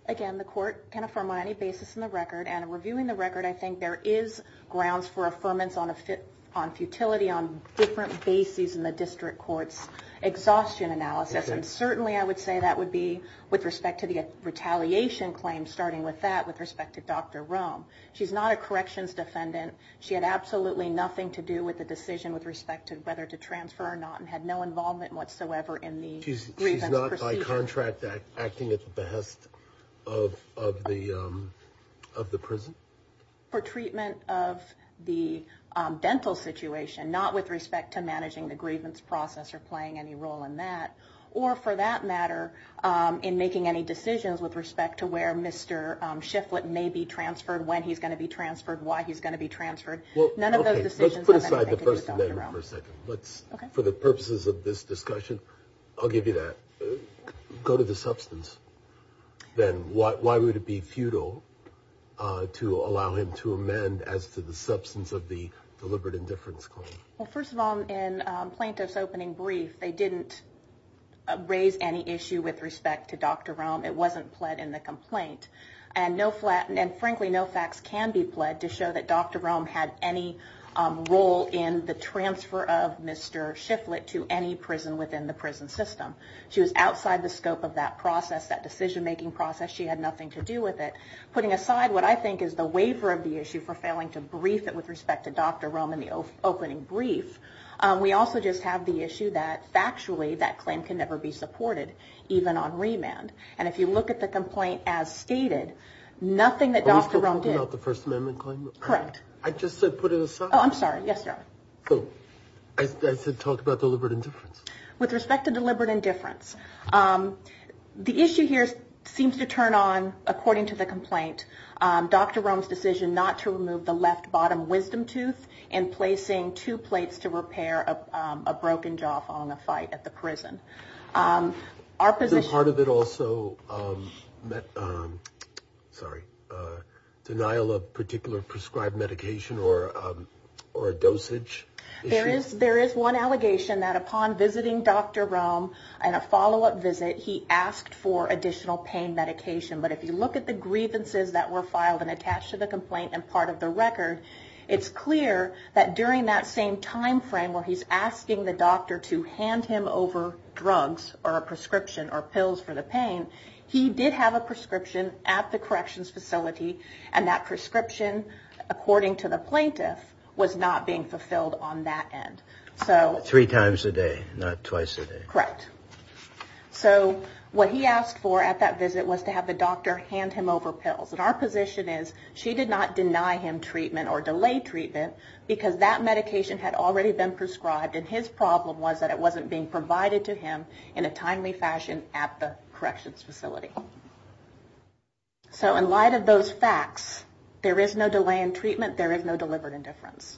Again, the court can affirm on any basis in the record and reviewing the record. I think there is grounds for affirmance on a fit on futility on different bases in the district court's exhaustion analysis. And certainly I would say that would be with respect to the retaliation claim, starting with that, with respect to Dr. Rome. She's not a corrections defendant. She had absolutely nothing to do with the decision with respect to whether to transfer or not, and had no involvement whatsoever in the. Contract that acting at the behest of of the of the prison for treatment of the dental situation, not with respect to managing the grievance process or playing any role in that. Or for that matter, in making any decisions with respect to where Mr. Shiflett may be transferred, when he's going to be transferred, why he's going to be transferred. None of those decisions. Let's put aside the first amendment for a second. But for the purposes of this discussion, I'll give you that. Go to the substance. Then why would it be futile to allow him to amend as to the substance of the deliberate indifference claim? Well, first of all, in plaintiff's opening brief, they didn't raise any issue with respect to Dr. Rome. It wasn't pled in the complaint. And frankly, no facts can be pled to show that Dr. Rome had any role in the transfer of Mr. Shiflett to any prison within the prison system. She was outside the scope of that process, that decision making process. She had nothing to do with it. Putting aside what I think is the waiver of the issue for failing to brief it with respect to Dr. Rome in the opening brief. We also just have the issue that factually that claim can never be supported, even on remand. And if you look at the complaint as stated, nothing that Dr. Rome did. Are we still talking about the first amendment claim? Correct. I just said put it aside. Oh, I'm sorry. Yes, sir. I said talk about deliberate indifference. With respect to deliberate indifference, the issue here seems to turn on, according to the complaint, Dr. Rome's decision not to remove the left bottom wisdom tooth and placing two plates to repair a broken jaw following a fight at the prison. Is part of it also denial of particular prescribed medication or a dosage issue? There is one allegation that upon visiting Dr. Rome in a follow-up visit, he asked for additional pain medication. But if you look at the grievances that were filed and attached to the complaint and part of the record, it's clear that during that same time frame where he's asking the doctor to hand him over drugs or a prescription or pills for the pain, he did have a prescription at the corrections facility, and that prescription, according to the plaintiff, was not being fulfilled on that end. Three times a day, not twice a day. Correct. So what he asked for at that visit was to have the doctor hand him over pills. And our position is she did not deny him treatment or delay treatment because that medication had already been prescribed and his problem was that it wasn't being provided to him in a timely fashion at the corrections facility. So in light of those facts, there is no delay in treatment, there is no deliberate indifference.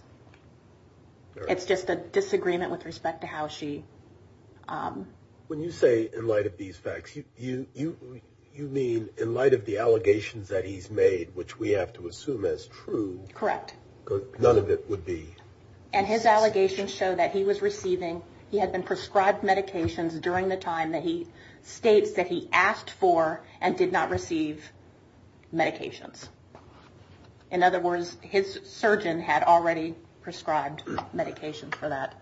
It's just a disagreement with respect to how she... which we have to assume is true. Correct. None of it would be... And his allegations show that he was receiving, he had been prescribed medications during the time that he states that he asked for and did not receive medications. In other words, his surgeon had already prescribed medications for that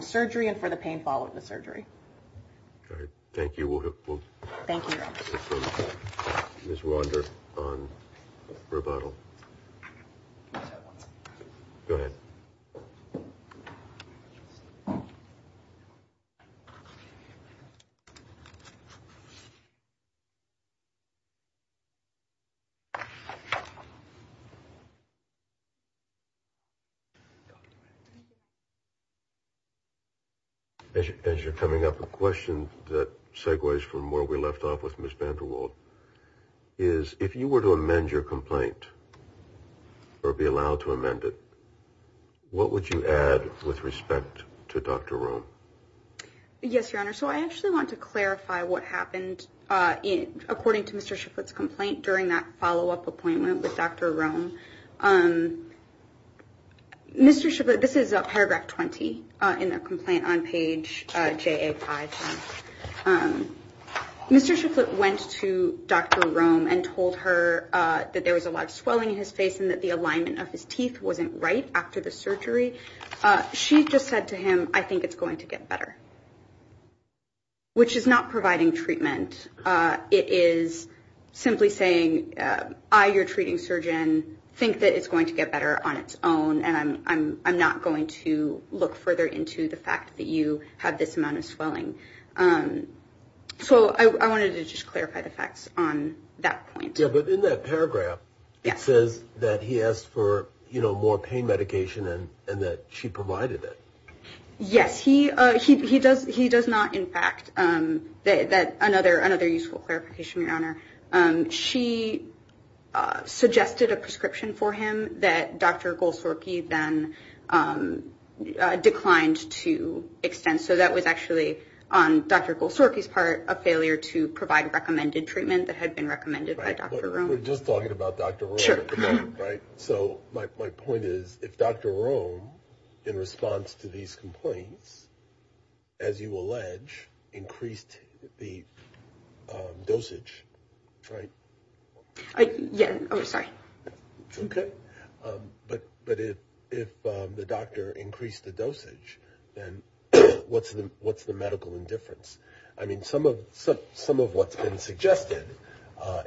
surgery and for the pain following the surgery. All right. Thank you. Thank you. Ms. Wander on rebuttal. Go ahead. Thank you. As you're coming up, a question that segues from where we left off with Ms. VanderWaal is if you were to amend your complaint or be allowed to amend it, what would you add with respect to Dr. Rome? Yes, Your Honor. So I actually want to clarify what happened according to Mr. Shifflett's complaint during that follow-up appointment with Dr. Rome. This is paragraph 20 in the complaint on page JA5. Mr. Shifflett went to Dr. Rome and told her that there was a lot of swelling in his face and that the alignment of his teeth wasn't right after the surgery. She just said to him, I think it's going to get better, which is not providing treatment. It is simply saying, I, your treating surgeon, think that it's going to get better on its own, and I'm not going to look further into the fact that you have this amount of swelling. So I wanted to just clarify the facts on that point. Yeah, but in that paragraph, it says that he asked for, you know, more pain medication and that she provided it. Yes, he does not, in fact. Another useful clarification, Your Honor. She suggested a prescription for him that Dr. Golsorky then declined to extend. So that was actually, on Dr. Golsorky's part, a failure to provide recommended treatment that had been recommended by Dr. Rome. We're just talking about Dr. Rome at the moment, right? So my point is, if Dr. Rome, in response to these complaints, as you allege, increased the dosage, right? Yeah, oh, sorry. Okay. But if the doctor increased the dosage, then what's the medical indifference? I mean, some of what's been suggested,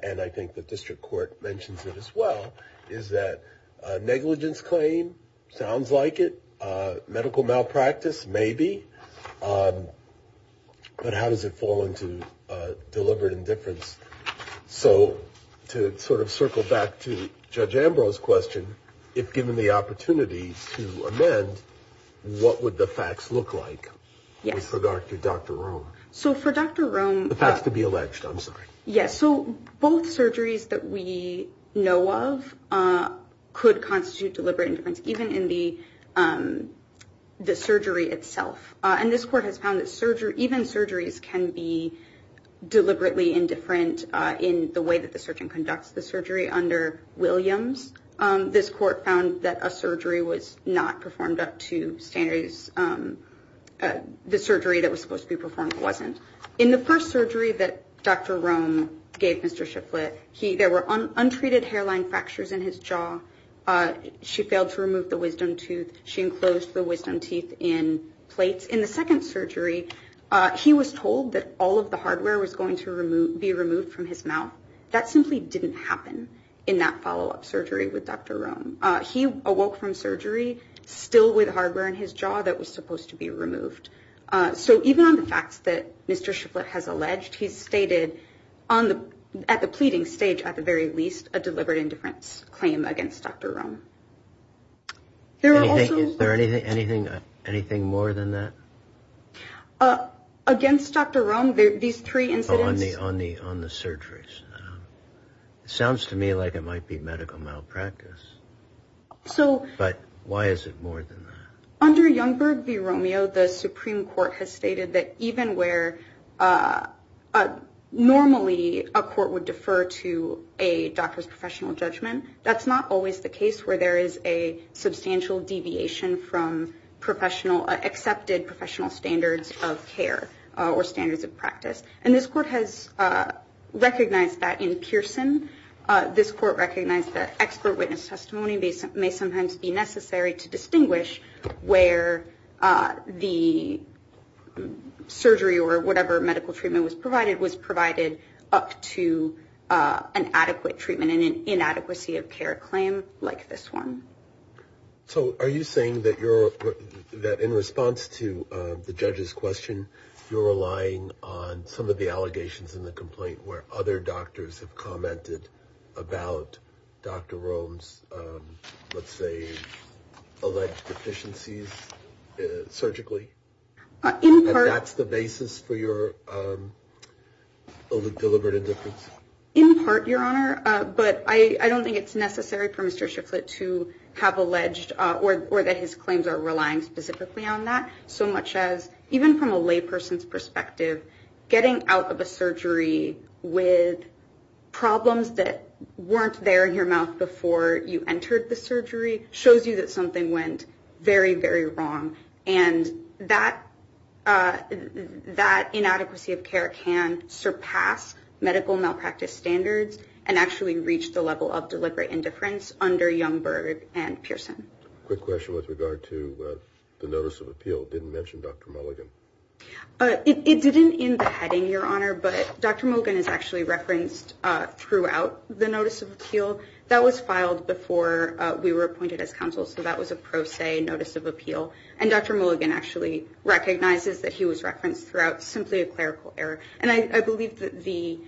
and I think the district court mentions it as well, is that a negligence claim sounds like it, medical malpractice, maybe. But how does it fall into deliberate indifference? So to sort of circle back to Judge Ambrose's question, if given the opportunity to amend, what would the facts look like with regard to Dr. Rome? So for Dr. Rome... The facts to be alleged, I'm sorry. Yes, so both surgeries that we know of could constitute deliberate indifference, even in the surgery itself. And this court has found that even surgeries can be deliberately indifferent in the way that the surgeon conducts the surgery. Under Williams, this court found that a surgery was not performed up to standards. The surgery that was supposed to be performed wasn't. In the first surgery that Dr. Rome gave Mr. Shiflett, there were untreated hairline fractures in his jaw. She failed to remove the wisdom tooth. She enclosed the wisdom teeth in plates. In the second surgery, he was told that all of the hardware was going to be removed from his mouth. That simply didn't happen in that follow-up surgery with Dr. Rome. He awoke from surgery still with hardware in his jaw that was supposed to be removed. So even on the facts that Mr. Shiflett has alleged, he's stated at the pleading stage, at the very least, a deliberate indifference claim against Dr. Rome. Is there anything more than that? Against Dr. Rome, these three incidents... On the surgeries. It sounds to me like it might be medical malpractice. But why is it more than that? Under Youngberg v. Romeo, the Supreme Court has stated that even where normally a court would defer to a doctor's professional judgment, that's not always the case where there is a substantial deviation from accepted professional standards of care or standards of practice. And this court has recognized that in Pearson. This court recognized that expert witness testimony may sometimes be necessary to distinguish where the surgery or whatever medical treatment was provided was provided up to an adequate treatment and inadequacy of care claim like this one. So are you saying that in response to the judge's question, you're relying on some of the allegations in the complaint where other doctors have commented about Dr. Rome's, let's say, alleged deficiencies surgically? That's the basis for your deliberate indifference? In part, Your Honor. But I don't think it's necessary for Mr. Shifflett to have alleged or that his claims are relying specifically on that so much as even from a lay person's perspective, getting out of a surgery with problems that weren't there in your mouth before you entered the surgery shows you that something went very, very wrong. And that inadequacy of care can surpass medical malpractice standards and actually reach the level of deliberate indifference under Youngberg and Pearson. Quick question with regard to the Notice of Appeal. It didn't mention Dr. Mulligan. It didn't in the heading, Your Honor, but Dr. Mulligan is actually referenced throughout the Notice of Appeal. That was filed before we were appointed as counsel. So that was a pro se notice of appeal. And Dr. Mulligan actually recognizes that he was referenced throughout simply a clerical error. And I believe that the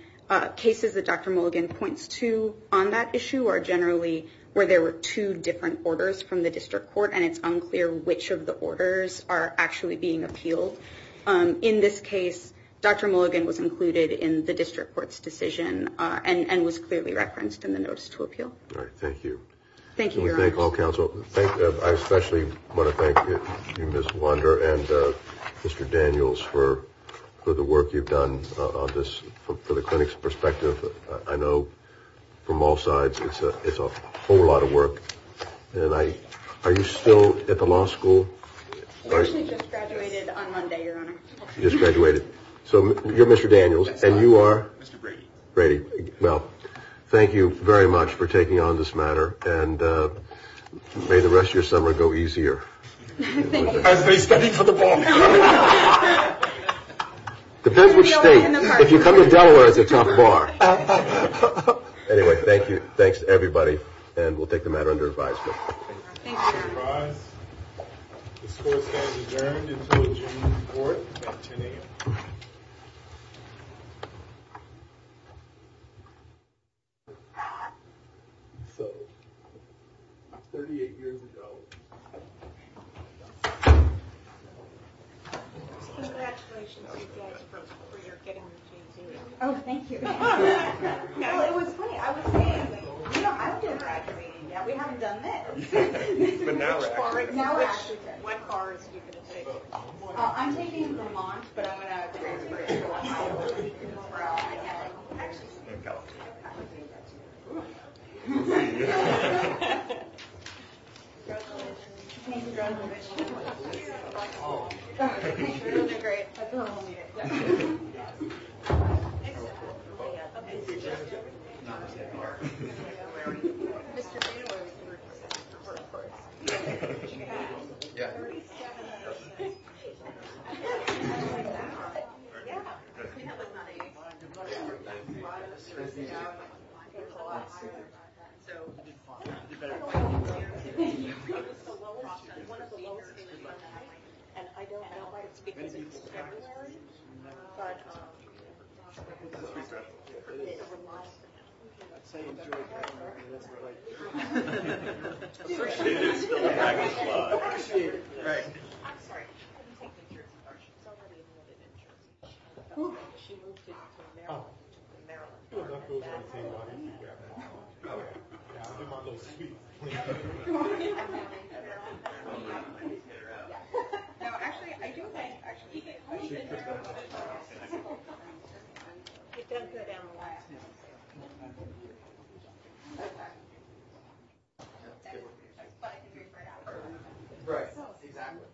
cases that Dr. Mulligan points to on that issue are generally where there were two different orders from the district court. And it's unclear which of the orders are actually being appealed. In this case, Dr. Mulligan was included in the district court's decision and was clearly referenced in the Notice of Appeal. All right. Thank you. Thank you, Your Honor. And we thank all counsel. I especially want to thank you, Ms. Wunder and Mr. Daniels, for the work you've done on this from the clinic's perspective. I know from all sides it's a whole lot of work. And are you still at the law school? I actually just graduated on Monday, Your Honor. You just graduated. So you're Mr. Daniels and you are? Mr. Brady. Brady. Well, thank you very much for taking on this matter. And may the rest of your summer go easier. Thank you. As they study for the ball. Depends which state. If you come to Delaware, it's a tough bar. Anyway, thank you. Thanks to everybody. And we'll take the matter under advisement. Thank you, Your Honor. The score stands adjourned until June 4th at 10 a.m. So, 38 years ago. Congratulations, you guys, for getting the J.T. Oh, thank you. Well, it was funny. I was saying, you know, I haven't been graduating yet. We haven't done this. But now we're graduating. Now we're actually taking it. What cars are you going to take? I'm taking Vermont, but I'm going to graduate from Ohio. Congratulations. Thank you. Congratulations. Thank you. You're going to do great. That's what I'm going to do. We're going to do a better job at this. I appreciate it. I'm sorry. She couldn't take the trip with us. She's already enrolled at Interest. She moved to Maryland, to the Maryland department. No, actually, I do think, actually, she's been there a couple of times. It does go down a lot. But I can figure it out. Right, exactly.